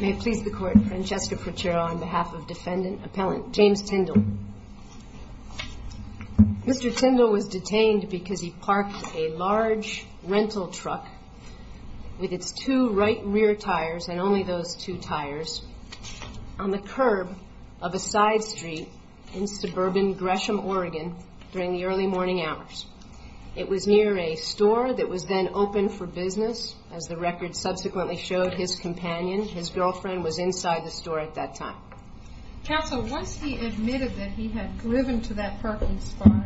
May it please the court, Francesca Porchero on behalf of defendant appellant James Tyndal. Mr. Tyndal was detained because he parked a large rental truck with its two right rear tires and only those two tires on the curb of a side street in suburban Gresham, Oregon during the early morning hours. It was near a store that was then open for business. As the record subsequently showed, his companion, his girlfriend, was inside the store at that time. Counsel, once he admitted that he had driven to that parking spot,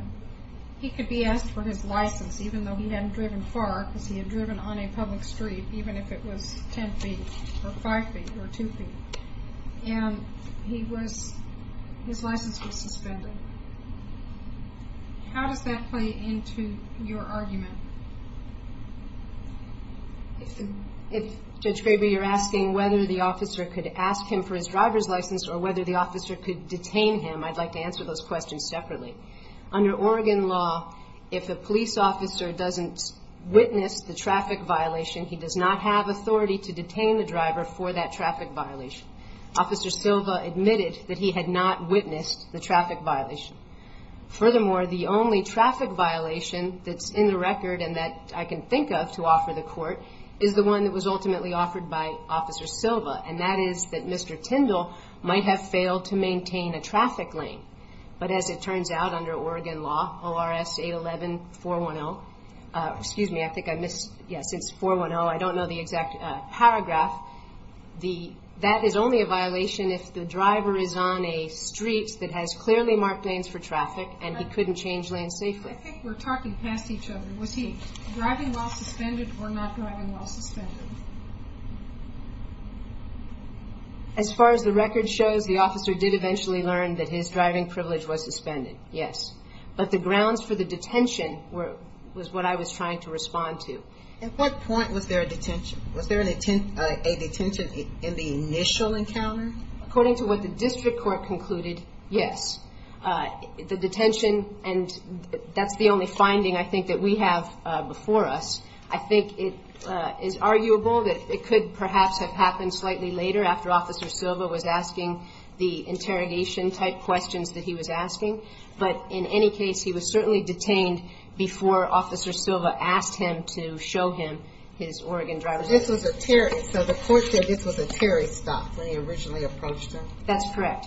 he could be asked for his license even though he hadn't driven far because he had driven on a public street even if it was 10 feet or 5 feet or 2 feet. And his license was suspended. How does that play into your argument? If Judge Graber you're asking whether the officer could ask him for his driver's license or whether the officer could detain him, I'd like to answer those questions separately. Under Oregon law, if a police officer doesn't witness the traffic violation, he does not have authority to detain the driver for that traffic violation. Officer Silva admitted that he had not witnessed the traffic violation. Furthermore, the only traffic violation that's in the record and that I can think of to offer the court is the one that was ultimately offered by Officer Silva, and that is that Mr. Tyndal might have failed to maintain a traffic lane. But as it turns out, under Oregon law, ORS 811-410, excuse me, I think I missed, yes, it's 410, I don't know the exact paragraph, that is only a violation if the driver is on a street that has clearly marked lanes for traffic and he couldn't change lanes safely. I think we're talking past each other. Was he driving while suspended or not driving while suspended? As far as the record shows, the officer did eventually learn that his driving privilege was suspended, yes. But the grounds for the detention was what I was trying to respond to. At what point was there a detention? Was there a detention in the initial encounter? According to what the district court concluded, yes. The detention, and that's the only finding I think that we have before us, I think it is arguable that it could perhaps have happened slightly later after Officer Silva was asking the interrogation-type questions that he was asking. But in any case, he was certainly detained before Officer Silva asked him to show him his Oregon driver's license. So the court said this was a Terry stop when he originally approached him? That's correct.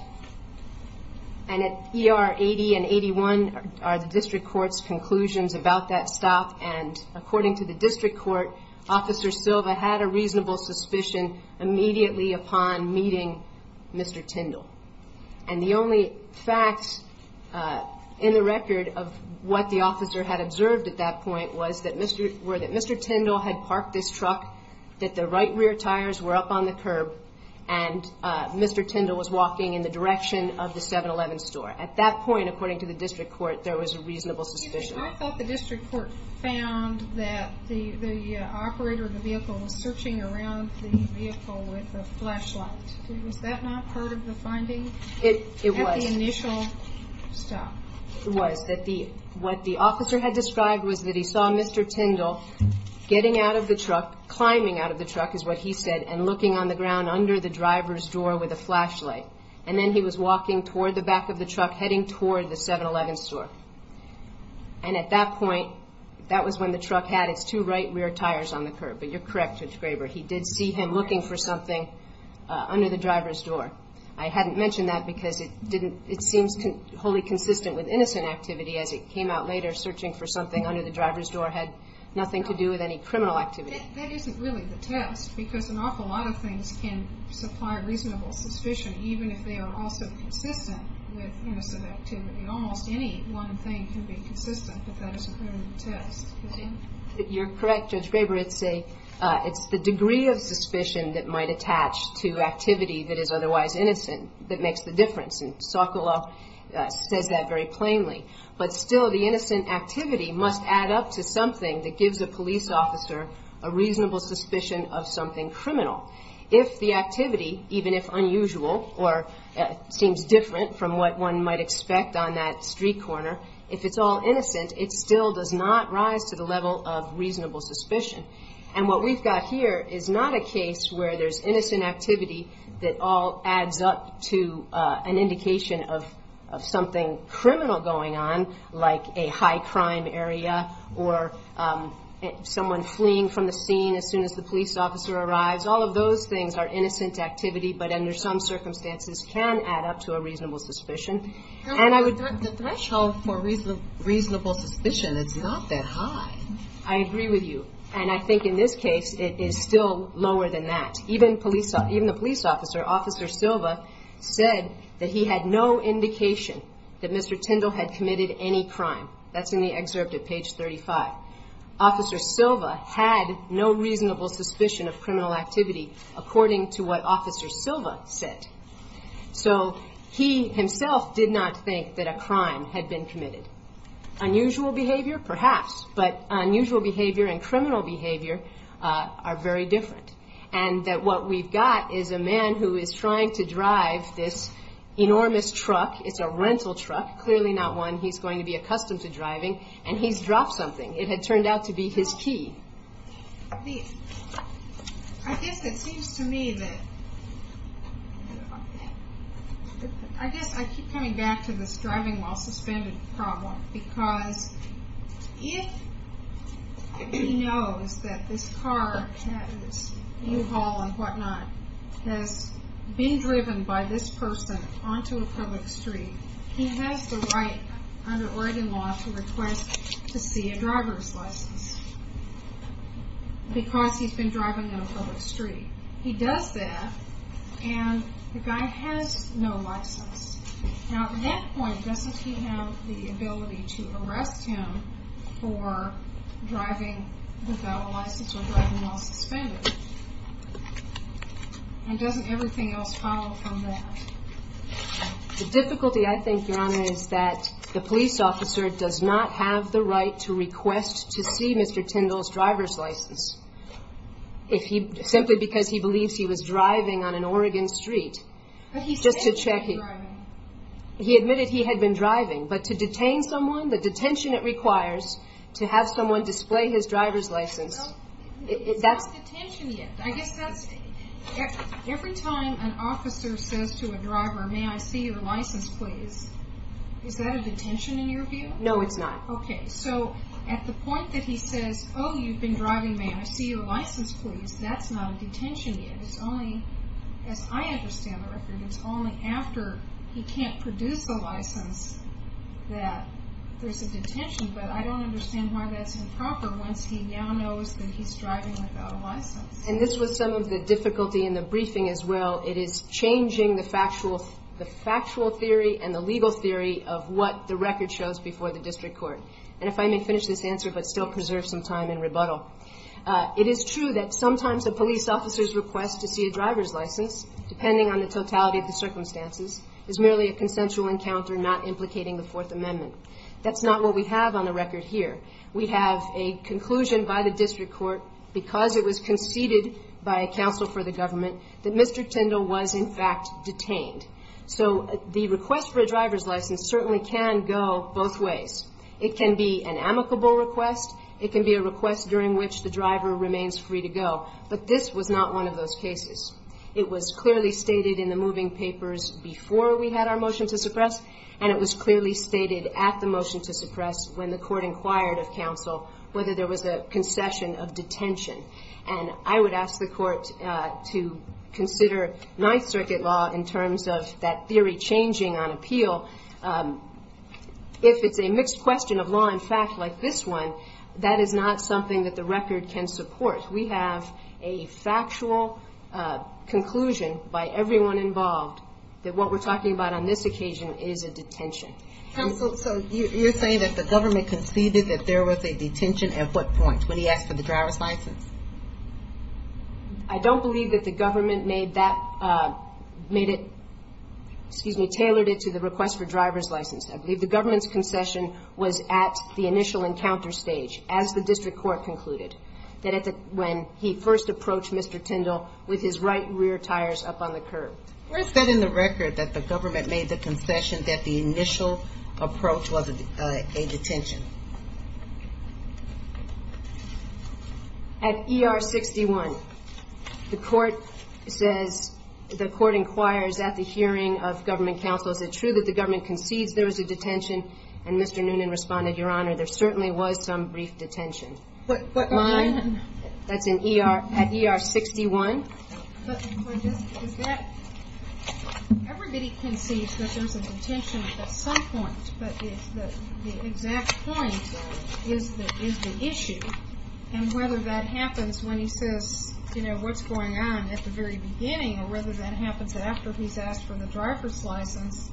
And at ER 80 and 81 are the district court's conclusions about that stop, and according to the district court, Officer Silva had a reasonable suspicion immediately upon meeting Mr. Tindall. And the only facts in the record of what the officer had observed at that point were that Mr. Tindall had parked this truck, that the right rear tires were up on the curb, and Mr. Tindall was walking in the direction of the 7-Eleven store. At that point, according to the district court, there was a reasonable suspicion. I thought the district court found that the operator of the vehicle was searching around the vehicle with a flashlight. Was that not part of the finding? It was. At the initial stop? It was. What the officer had described was that he saw Mr. Tindall getting out of the truck, climbing out of the truck is what he said, and looking on the ground under the driver's door with a flashlight. And then he was walking toward the back of the truck, heading toward the 7-Eleven store. And at that point, that was when the truck had its two right rear tires on the curb. But you're correct, Judge Graber, he did see him looking for something under the driver's door. I hadn't mentioned that because it seems wholly consistent with innocent activity as it came out later, searching for something under the driver's door had nothing to do with any criminal activity. That isn't really the test, because an awful lot of things can supply reasonable suspicion, even if they are also consistent with innocent activity. Almost any one thing can be consistent, but that isn't really the test. You're correct, Judge Graber. It's the degree of suspicion that might attach to activity that is otherwise innocent that makes the difference. And Sokoloff says that very plainly. But still, the innocent activity must add up to something that gives a police officer a reasonable suspicion of something criminal. If the activity, even if unusual or seems different from what one might expect on that street corner, if it's all innocent, it still does not rise to the level of reasonable suspicion. And what we've got here is not a case where there's innocent activity that all adds up to an indication of something criminal going on, like a high-crime area or someone fleeing from the scene as soon as the police officer arrives. All of those things are innocent activity, but under some circumstances can add up to a reasonable suspicion. And I would – The threshold for reasonable suspicion is not that high. I agree with you. And I think in this case, it is still lower than that. Even the police officer, Officer Silva, said that he had no indication that Mr. Tindall had committed any crime. That's in the excerpt at page 35. Officer Silva had no reasonable suspicion of criminal activity according to what Officer Silva said. So he himself did not think that a crime had been committed. Unusual behavior, perhaps, but unusual behavior and criminal behavior are very different and that what we've got is a man who is trying to drive this enormous truck. It's a rental truck, clearly not one he's going to be accustomed to driving, and he's dropped something. It had turned out to be his key. I guess it seems to me that – I guess I keep coming back to this driving while suspended problem because if he knows that this car that is U-Haul and whatnot has been driven by this person onto a public street, he has the right under Oregon law to request to see a driver's license because he's been driving on a public street. He does that, and the guy has no license. Now, at that point, doesn't he have the ability to arrest him for driving without a license or driving while suspended? And doesn't everything else follow from that? The difficulty, I think, Your Honor, is that the police officer does not have the right to request to see Mr. Tindall's driver's license. If he – simply because he believes he was driving on an Oregon street. But he said he had been driving. He admitted he had been driving, but to detain someone, the detention it requires to have someone display his driver's license. Well, it's not detention yet. I guess that's – every time an officer says to a driver, may I see your license, please, is that a detention in your view? No, it's not. Okay, so at the point that he says, oh, you've been driving, may I see your license, please, that's not a detention yet. It's only, as I understand the record, it's only after he can't produce the license that there's a detention. But I don't understand why that's improper once he now knows that he's driving without a license. And this was some of the difficulty in the briefing as well. It is changing the factual theory and the legal theory of what the record shows before the district court. And if I may finish this answer but still preserve some time in rebuttal. It is true that sometimes a police officer's request to see a driver's license, depending on the totality of the circumstances, is merely a consensual encounter not implicating the Fourth Amendment. That's not what we have on the record here. We have a conclusion by the district court, because it was conceded by a counsel for the government, that Mr. Tindall was in fact detained. So the request for a driver's license certainly can go both ways. It can be an amicable request. It can be a request during which the driver remains free to go. But this was not one of those cases. It was clearly stated in the moving papers before we had our motion to suppress, and it was clearly stated at the motion to suppress when the court inquired of counsel whether there was a concession of detention. And I would ask the court to consider Ninth Circuit law in terms of that theory changing on appeal. If it's a mixed question of law and fact like this one, that is not something that the record can support. We have a factual conclusion by everyone involved that what we're talking about on this occasion is a detention. Counsel, so you're saying that the government conceded that there was a detention at what point, when he asked for the driver's license? I don't believe that the government made that, made it, excuse me, tailored it to the request for driver's license. I believe the government's concession was at the initial encounter stage, as the district court concluded, that when he first approached Mr. Tindall with his right rear tires up on the curb. Where is that in the record that the government made the concession that the initial approach was a detention? At ER 61. The court says, the court inquires at the hearing of government counsel, is it true that the government concedes there was a detention? And Mr. Noonan responded, Your Honor, there certainly was some brief detention. But mine, that's at ER 61. Everybody concedes that there's a detention at some point, but the exact point is the issue. And whether that happens when he says, you know, what's going on at the very beginning, or whether that happens after he's asked for the driver's license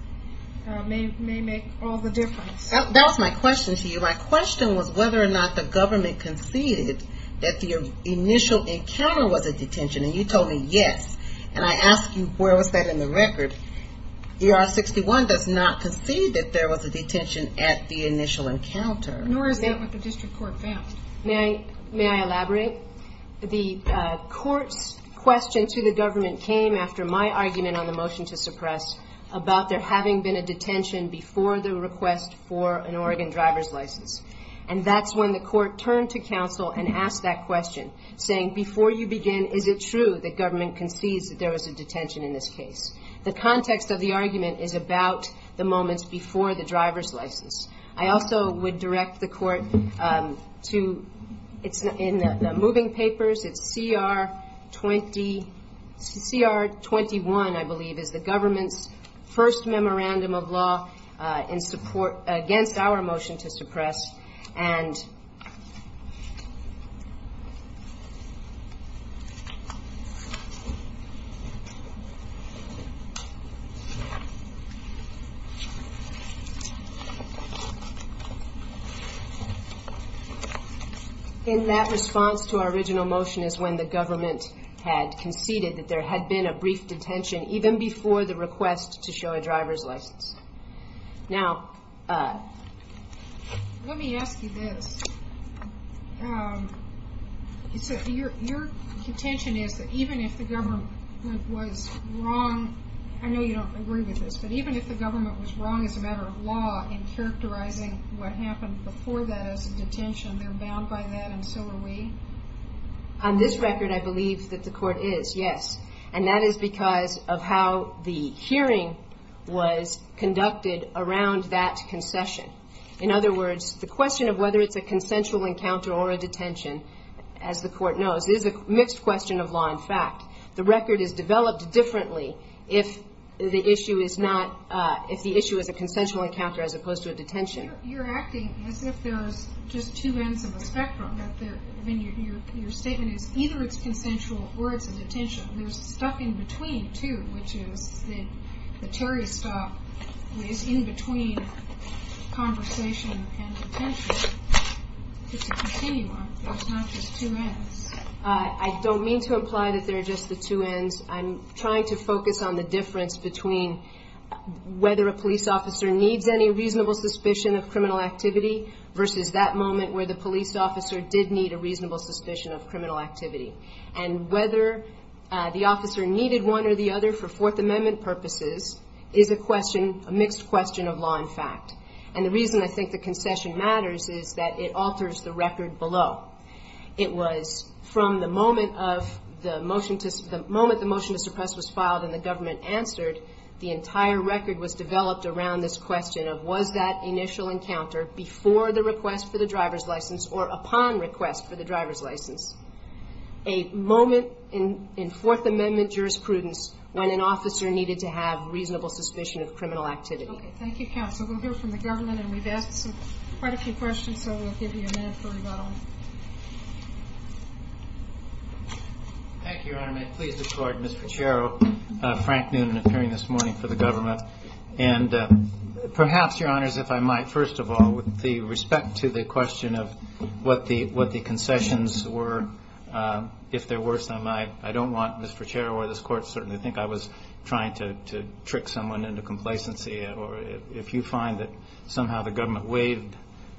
may make all the difference. That was my question to you. My question was whether or not the government conceded that the initial encounter was a detention. And you told me yes. And I ask you, where was that in the record? ER 61 does not concede that there was a detention at the initial encounter. Nor is that what the district court found. May I elaborate? The court's question to the government came after my argument on the motion to suppress, about there having been a detention before the request for an Oregon driver's license. And that's when the court turned to counsel and asked that question, saying, before you begin, is it true that government concedes that there was a detention in this case? The context of the argument is about the moments before the driver's license. I also would direct the court to, in the moving papers, it's CR 20, CR 21, I believe, is the government's first memorandum of law against our motion to suppress. And in that response to our original motion is when the government had conceded that there had been a brief detention, even before the request to show a driver's license. Now, let me ask you this. Your contention is that even if the government was wrong, I know you don't agree with this, but even if the government was wrong as a matter of law in characterizing what happened before that as a detention, they're bound by that and so are we? On this record, I believe that the court is, yes. And that is because of how the hearing was conducted around that concession. In other words, the question of whether it's a consensual encounter or a detention, as the court knows, is a mixed question of law and fact. The record is developed differently if the issue is a consensual encounter as opposed to a detention. You're acting as if there's just two ends of the spectrum. Your statement is either it's consensual or it's a detention. There's stuff in between, too, which is the Terry stop is in between conversation and detention. It's a continuum. There's not just two ends. I don't mean to imply that there are just the two ends. I'm trying to focus on the difference between whether a police officer needs any reasonable suspicion of criminal activity versus that moment where the police officer did need a reasonable suspicion of criminal activity. And whether the officer needed one or the other for Fourth Amendment purposes is a mixed question of law and fact. And the reason I think the concession matters is that it alters the record below. It was from the moment the motion to suppress was filed and the government answered, the entire record was developed around this question of was that initial encounter before the request for the driver's license or upon request for the driver's license a moment in Fourth Amendment jurisprudence when an officer needed to have reasonable suspicion of criminal activity. Thank you, Counsel. We'll hear from the government, and we've asked quite a few questions, so we'll give you a minute for rebuttal. Thank you, Your Honor. May it please the Court, Mr. Cerro, Frank Noonan appearing this morning for the government. And perhaps, Your Honors, if I might, first of all, with respect to the question of what the concessions were, if there were some, I don't want Mr. Cerro or this Court to certainly think I was trying to trick someone into complacency or if you find that somehow the government waived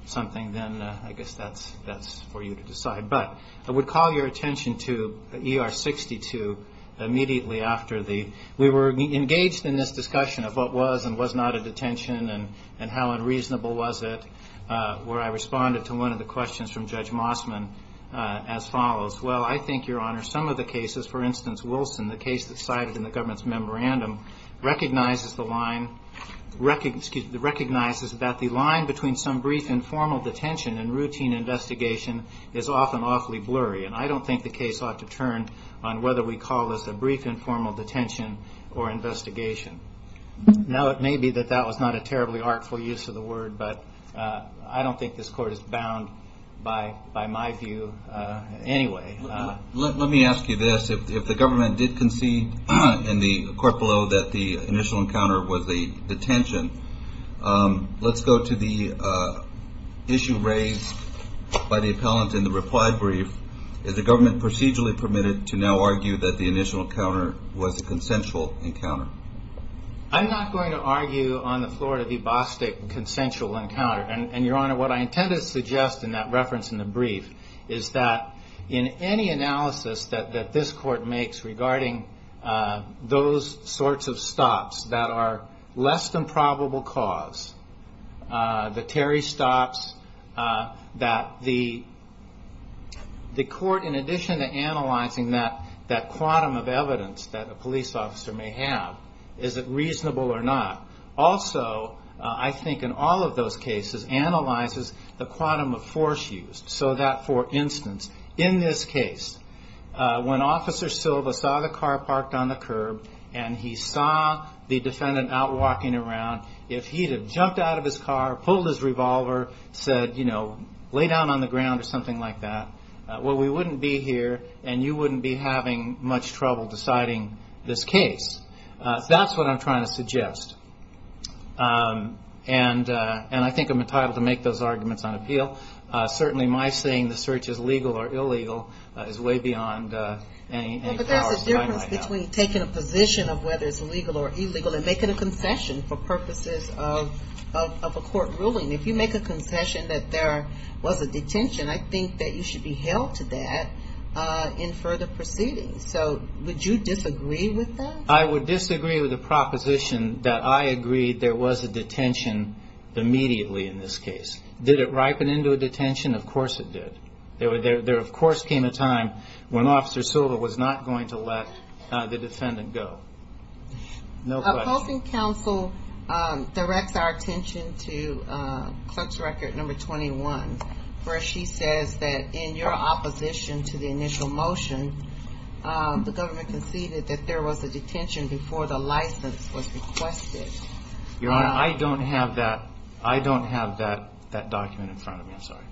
something, then I guess that's for you to decide. But I would call your attention to ER 62 immediately after the, we were engaged in this discussion of what was and was not a detention and how unreasonable was it where I responded to one of the questions from Judge Mossman as follows. Well, I think, Your Honor, some of the cases, for instance, Wilson, the case that's cited in the government's memorandum recognizes the line, recognizes that the line between some brief informal detention and routine investigation is often awfully blurry. And I don't think the case ought to turn on whether we call this a brief informal detention or investigation. Now, it may be that that was not a terribly artful use of the word, but I don't think this Court is bound by my view anyway. Let me ask you this. If the government did concede in the court below that the initial encounter was a detention, let's go to the issue raised by the appellant in the reply brief. Is the government procedurally permitted to now argue that the initial encounter was a consensual encounter? I'm not going to argue on the floor of the Bostic consensual encounter. And, Your Honor, what I intended to suggest in that reference in the brief is that in any analysis that this court makes regarding those sorts of stops that are less than probable cause, the Terry stops, that the court, in addition to analyzing that quantum of evidence that a police officer may have, is it reasonable or not? Also, I think in all of those cases, analyzes the quantum of force used so that, for instance, in this case, when Officer Silva saw the car parked on the curb and he saw the defendant out walking around, if he had jumped out of his car, pulled his revolver, said, you know, lay down on the ground or something like that, well, we wouldn't be here and you wouldn't be having much trouble deciding this case. That's what I'm trying to suggest. And I think I'm entitled to make those arguments on appeal. Certainly my saying the search is legal or illegal is way beyond any powers that I might have. Well, but there's a difference between taking a position of whether it's legal or illegal and making a concession for purposes of a court ruling. If you make a concession that there was a detention, I think that you should be held to that in further proceedings. So would you disagree with that? I would disagree with the proposition that I agreed there was a detention immediately in this case. Did it ripen into a detention? Of course it did. There, of course, came a time when Officer Silva was not going to let the defendant go. No question. Opposing counsel directs our attention to clerk's record number 21, where she says that in your opposition to the initial motion, the government conceded that there was a detention before the license was requested. Your Honor, I don't have that document in front of me. I'm sorry.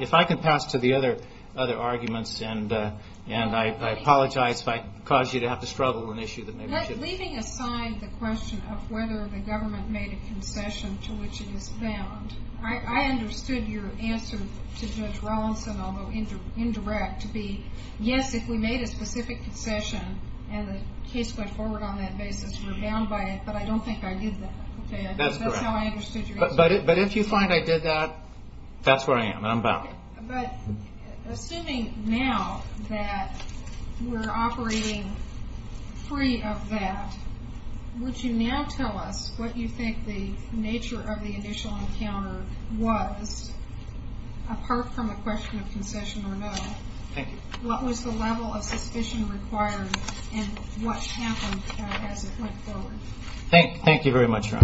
If I could pass to the other arguments, and I apologize if I cause you to have to struggle with an issue that may be too big. Leaving aside the question of whether the government made a concession to which it is bound, I understood your answer to Judge Rawlinson, although indirect, to be, yes, if we made a specific concession and the case went forward on that basis, we're bound by it, but I don't think I did that. That's correct. That's how I understood your answer. But if you find I did that, that's where I am. I'm bound. Assuming now that we're operating free of that, would you now tell us what you think the nature of the initial encounter was, apart from the question of concession or no? Thank you. What was the level of suspicion required and what happened as it went forward? Thank you very much, Your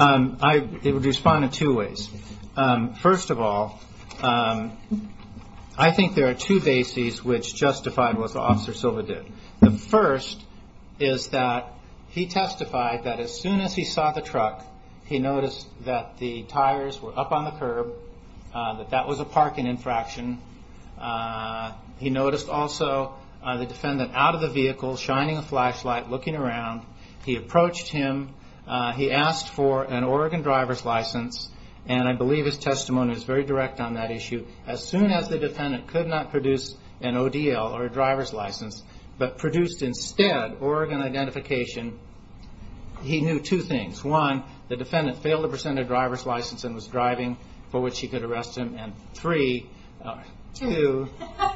Honor. I would respond in two ways. First of all, I think there are two bases which justified what Officer Silva did. The first is that he testified that as soon as he saw the truck, he noticed that the tires were up on the curb, that that was a parking infraction. He noticed also the defendant out of the vehicle, shining a flashlight, looking around. He approached him. He asked for an Oregon driver's license, and I believe his testimony was very direct on that issue. As soon as the defendant could not produce an ODL or a driver's license, but produced instead Oregon identification, he knew two things. One, the defendant failed to present a driver's license and was driving, for which he could arrest him. Two,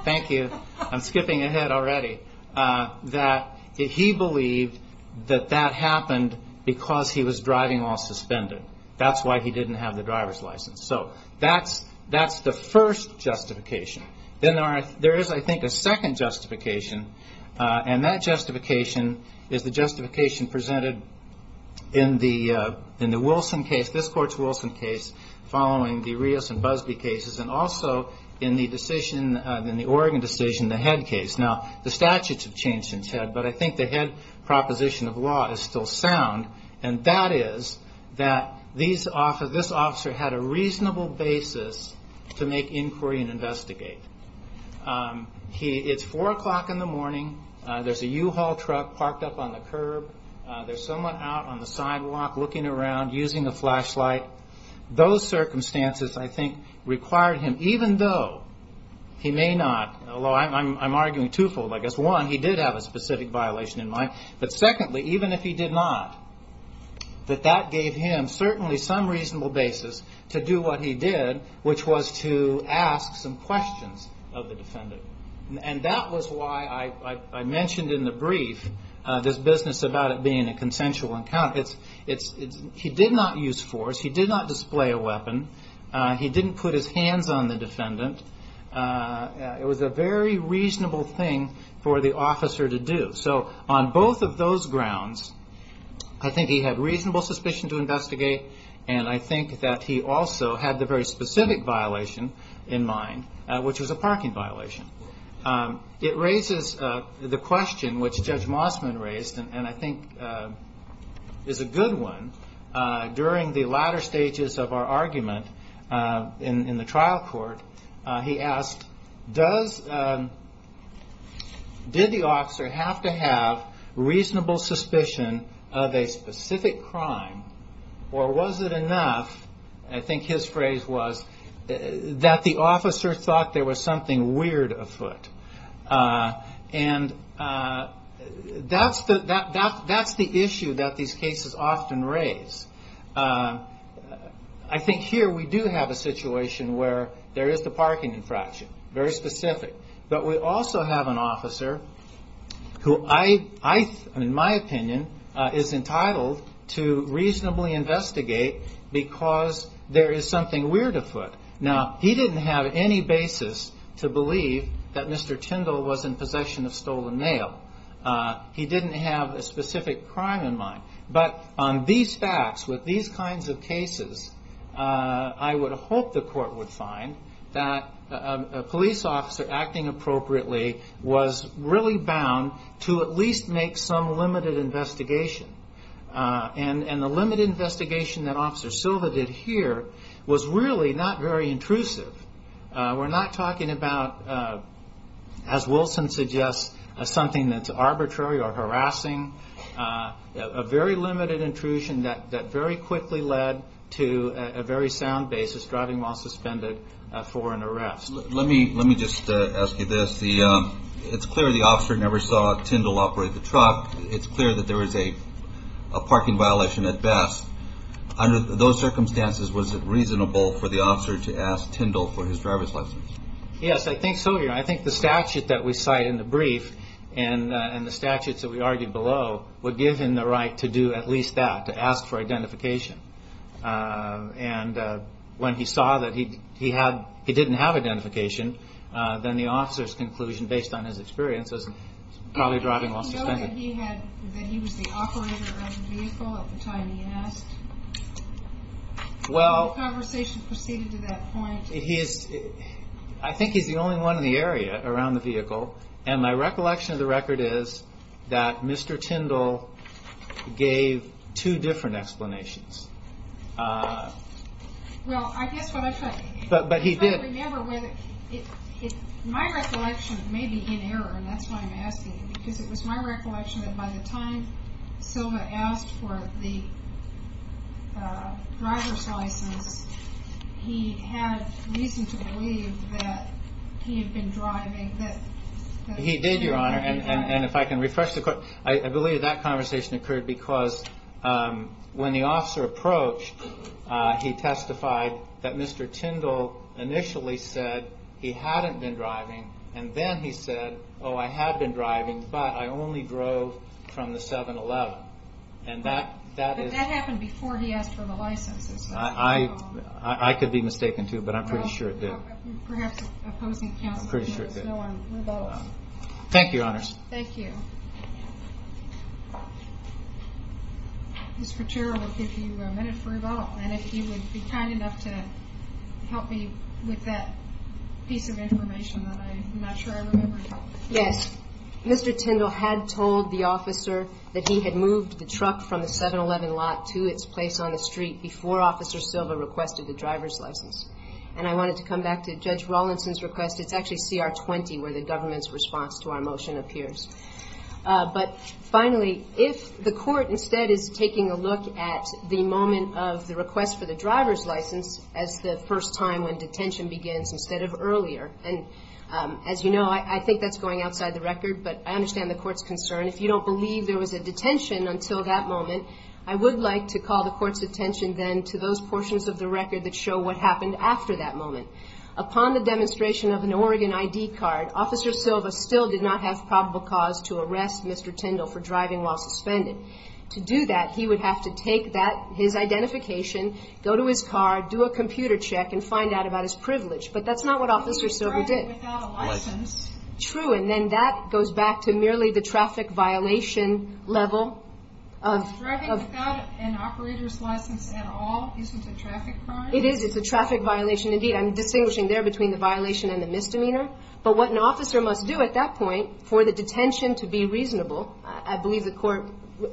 thank you, I'm skipping ahead already, that he believed that that happened because he was driving while suspended. That's why he didn't have the driver's license. So that's the first justification. Then there is, I think, a second justification, and that justification is the justification presented in the Wilson case, this Court's Wilson case, following the Rios and Busby cases, and also in the Oregon decision, the Head case. Now, the statutes have changed since Head, but I think the Head proposition of law is still sound, and that is that this officer had a reasonable basis to make inquiry and investigate. It's 4 o'clock in the morning. There's a U-Haul truck parked up on the curb. There's someone out on the sidewalk looking around, using a flashlight. Those circumstances, I think, required him, even though he may not, although I'm arguing twofold, I guess. One, he did have a specific violation in mind. But secondly, even if he did not, that that gave him certainly some reasonable basis to do what he did, and that was why I mentioned in the brief this business about it being a consensual encounter. He did not use force. He did not display a weapon. He didn't put his hands on the defendant. It was a very reasonable thing for the officer to do. So on both of those grounds, I think he had reasonable suspicion to investigate, and I think that he also had the very specific violation in mind, which was a parking violation. It raises the question which Judge Mossman raised, and I think is a good one. During the latter stages of our argument in the trial court, he asked, did the officer have to have reasonable suspicion of a specific crime, or was it enough, I think his phrase was, that the officer thought there was something weird afoot? That's the issue that these cases often raise. I think here we do have a situation where there is the parking infraction, very specific. But we also have an officer who I, in my opinion, is entitled to reasonably investigate because there is something weird afoot. Now, he didn't have any basis to believe that Mr. Tyndall was in possession of stolen mail. But on these facts, with these kinds of cases, I would hope the court would find that a police officer acting appropriately was really bound to at least make some limited investigation. And the limited investigation that Officer Silva did here was really not very intrusive. We're not talking about, as Wilson suggests, something that's arbitrary or harassing. A very limited intrusion that very quickly led to a very sound basis, driving while suspended for an arrest. Let me just ask you this. It's clear the officer never saw Tyndall operate the truck. It's clear that there was a parking violation at best. Under those circumstances, was it reasonable for the officer to ask Tyndall for his driver's license? Yes, I think so. I think the statute that we cite in the brief and the statutes that we argued below would give him the right to do at least that, to ask for identification. And when he saw that he didn't have identification, then the officer's conclusion, based on his experience, was probably driving while suspended. Did he know that he was the operator of the vehicle at the time he asked? Well... Did the conversation proceed to that point? I think he's the only one in the area around the vehicle. And my recollection of the record is that Mr. Tyndall gave two different explanations. Well, I guess what I'm trying to... But he did... I'm trying to remember whether... My recollection may be in error, and that's why I'm asking you, because it was my recollection that by the time Silva asked for the driver's license, he had reason to believe that he had been driving... He did, Your Honor, and if I can refresh the... I believe that conversation occurred because when the officer approached, he testified that Mr. Tyndall initially said he hadn't been driving, and then he said, oh, I had been driving, but I only drove from the 7-Eleven. And that is... But that happened before he asked for the license. I could be mistaken, too, but I'm pretty sure it did. Perhaps opposing counsel... I'm pretty sure it did. No one rebuttals. Thank you, Your Honors. Thank you. Mr. Chair, I will give you a minute for rebuttal, and if you would be kind enough to help me with that piece of information that I'm not sure I remember. Yes. Mr. Tyndall had told the officer that he had moved the truck from the 7-Eleven lot to its place on the street before Officer Silva requested the driver's license. And I wanted to come back to Judge Rawlinson's request. It's actually CR 20 where the government's response to our motion appears. But finally, if the court instead is taking a look at the moment of the request for the driver's license as the first time when detention begins instead of earlier, and as you know, I think that's going outside the record, but I understand the court's concern. If you don't believe there was a detention until that moment, I would like to call the court's attention then to those portions of the record that show what happened after that moment. Upon the demonstration of an Oregon ID card, Officer Silva still did not have probable cause to arrest Mr. Tyndall for driving while suspended. To do that, he would have to take his identification, go to his car, do a computer check, and find out about his privilege. He was driving without a license. True, and then that goes back to merely the traffic violation level. Driving without an operator's license at all isn't a traffic crime? It is. It's a traffic violation. Indeed, I'm distinguishing there between the violation and the misdemeanor. But what an officer must do at that point for the detention to be reasonable, I believe the court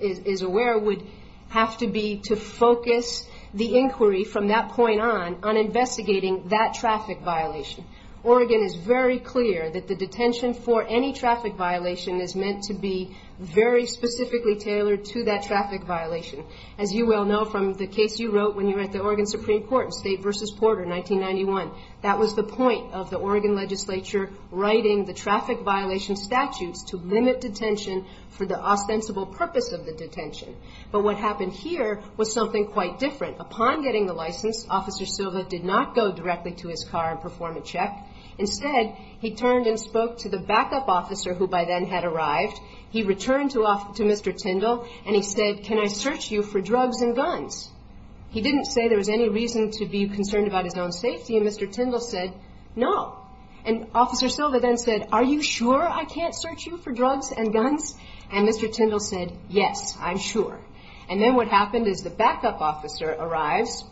is aware, would have to be to focus the inquiry from that point on on investigating that traffic violation. Oregon is very clear that the detention for any traffic violation is meant to be very specifically tailored to that traffic violation. As you well know from the case you wrote when you were at the Oregon Supreme Court in State v. Porter, 1991, that was the point of the Oregon legislature writing the traffic violation statutes to limit detention for the ostensible purpose of the detention. But what happened here was something quite different. Upon getting the license, Officer Silva did not go directly to his car and perform a check. Instead, he turned and spoke to the backup officer who by then had arrived. He returned to Mr. Tindall, and he said, Can I search you for drugs and guns? He didn't say there was any reason to be concerned about his own safety, and Mr. Tindall said, No. And Officer Silva then said, Are you sure I can't search you for drugs and guns? And Mr. Tindall said, Yes, I'm sure. And then what happened is the backup officer arrives,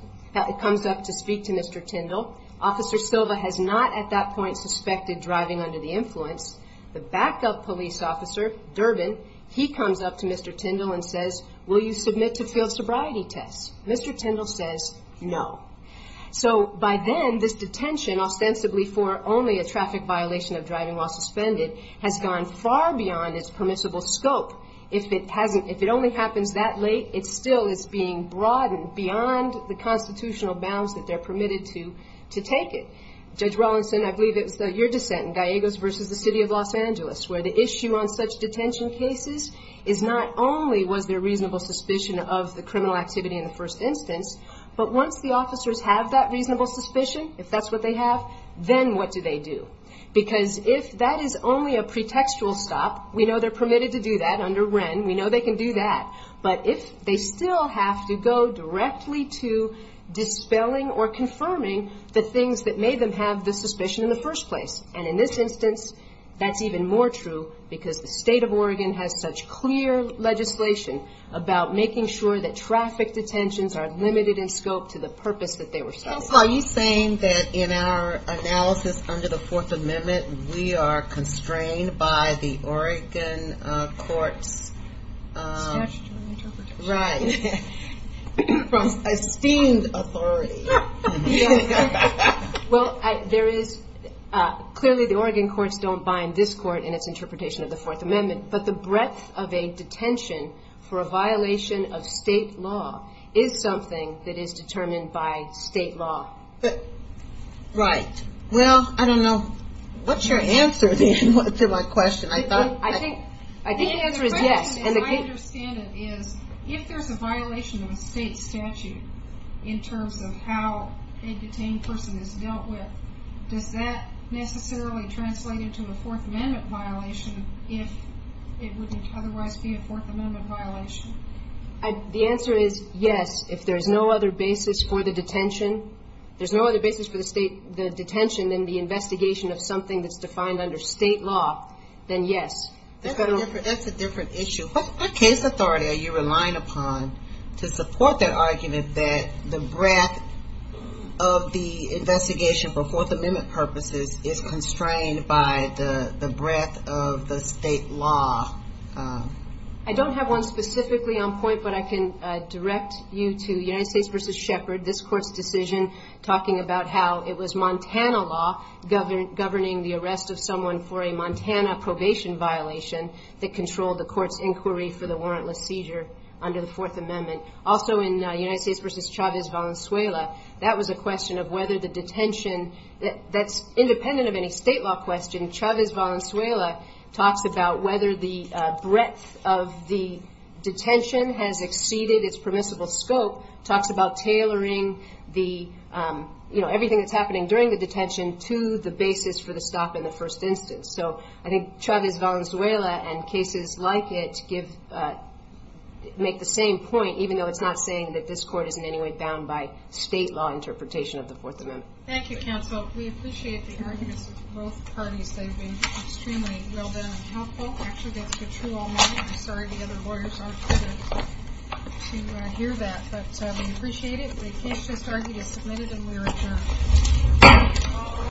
comes up to speak to Mr. Tindall. Officer Silva has not at that point suspected driving under the influence. The backup police officer, Durbin, he comes up to Mr. Tindall and says, Will you submit to field sobriety tests? Mr. Tindall says, No. So by then, this detention, ostensibly for only a traffic violation of driving while suspended, has gone far beyond its permissible scope. If it only happens that late, it still is being broadened beyond the constitutional bounds that they're permitted to take it. Judge Rawlinson, I believe it was your dissent in Gallegos versus the City of Los Angeles, where the issue on such detention cases is not only was there reasonable suspicion of the criminal activity in the first instance, but once the officers have that reasonable suspicion, if that's what they have, then what do they do? Because if that is only a pretextual stop, we know they're permitted to do that under Wren, we know they can do that. But if they still have to go directly to dispelling or confirming the things that made them have the suspicion in the first place, and in this instance, that's even more true because the State of Oregon has such clear legislation about making sure that traffic detentions are limited in scope to the purpose that they were subject to. Counsel, are you saying that in our analysis under the Fourth Amendment, we are constrained by the Oregon court's... Statutory interpretation. Right. From esteemed authority. Well, there is, clearly the Oregon courts don't bind this court in its interpretation of the Fourth Amendment, but the breadth of a detention for a violation of State law is something that is determined by State law. Right. Well, I don't know. What's your answer then to my question? I think the answer is yes. The way I understand it is if there's a violation of a State statute in terms of how a detained person is dealt with, does that necessarily translate into a Fourth Amendment violation if it would otherwise be a Fourth Amendment violation? The answer is yes. If there's no other basis for the detention, there's no other basis for the State detention than the investigation of something that's defined under State law, then yes. That's a different issue. What case authority are you relying upon to support that argument that the breadth of the investigation for Fourth Amendment purposes is constrained by the breadth of the State law? I don't have one specifically on point, but I can direct you to United States v. Shepard, this Court's decision talking about how it was Montana law governing the arrest of someone for a Montana probation violation that controlled the Court's inquiry for the warrantless seizure under the Fourth Amendment. Also in United States v. Chavez-Valenzuela, that was a question of whether the detention that's independent of any State law question. Chavez-Valenzuela talks about whether the breadth of the detention has exceeded its permissible scope, talks about tailoring everything that's happening during the detention to the basis for the stop in the first instance. So I think Chavez-Valenzuela and cases like it make the same point, even though it's not saying that this Court isn't in any way bound by State law interpretation of the Fourth Amendment. Thank you, counsel. We appreciate the arguments of both parties. They've been extremely well done and helpful. Actually, that's been true all night. I'm sorry the other lawyers aren't able to hear that. But we appreciate it. The case just argued is submitted and we are adjourned.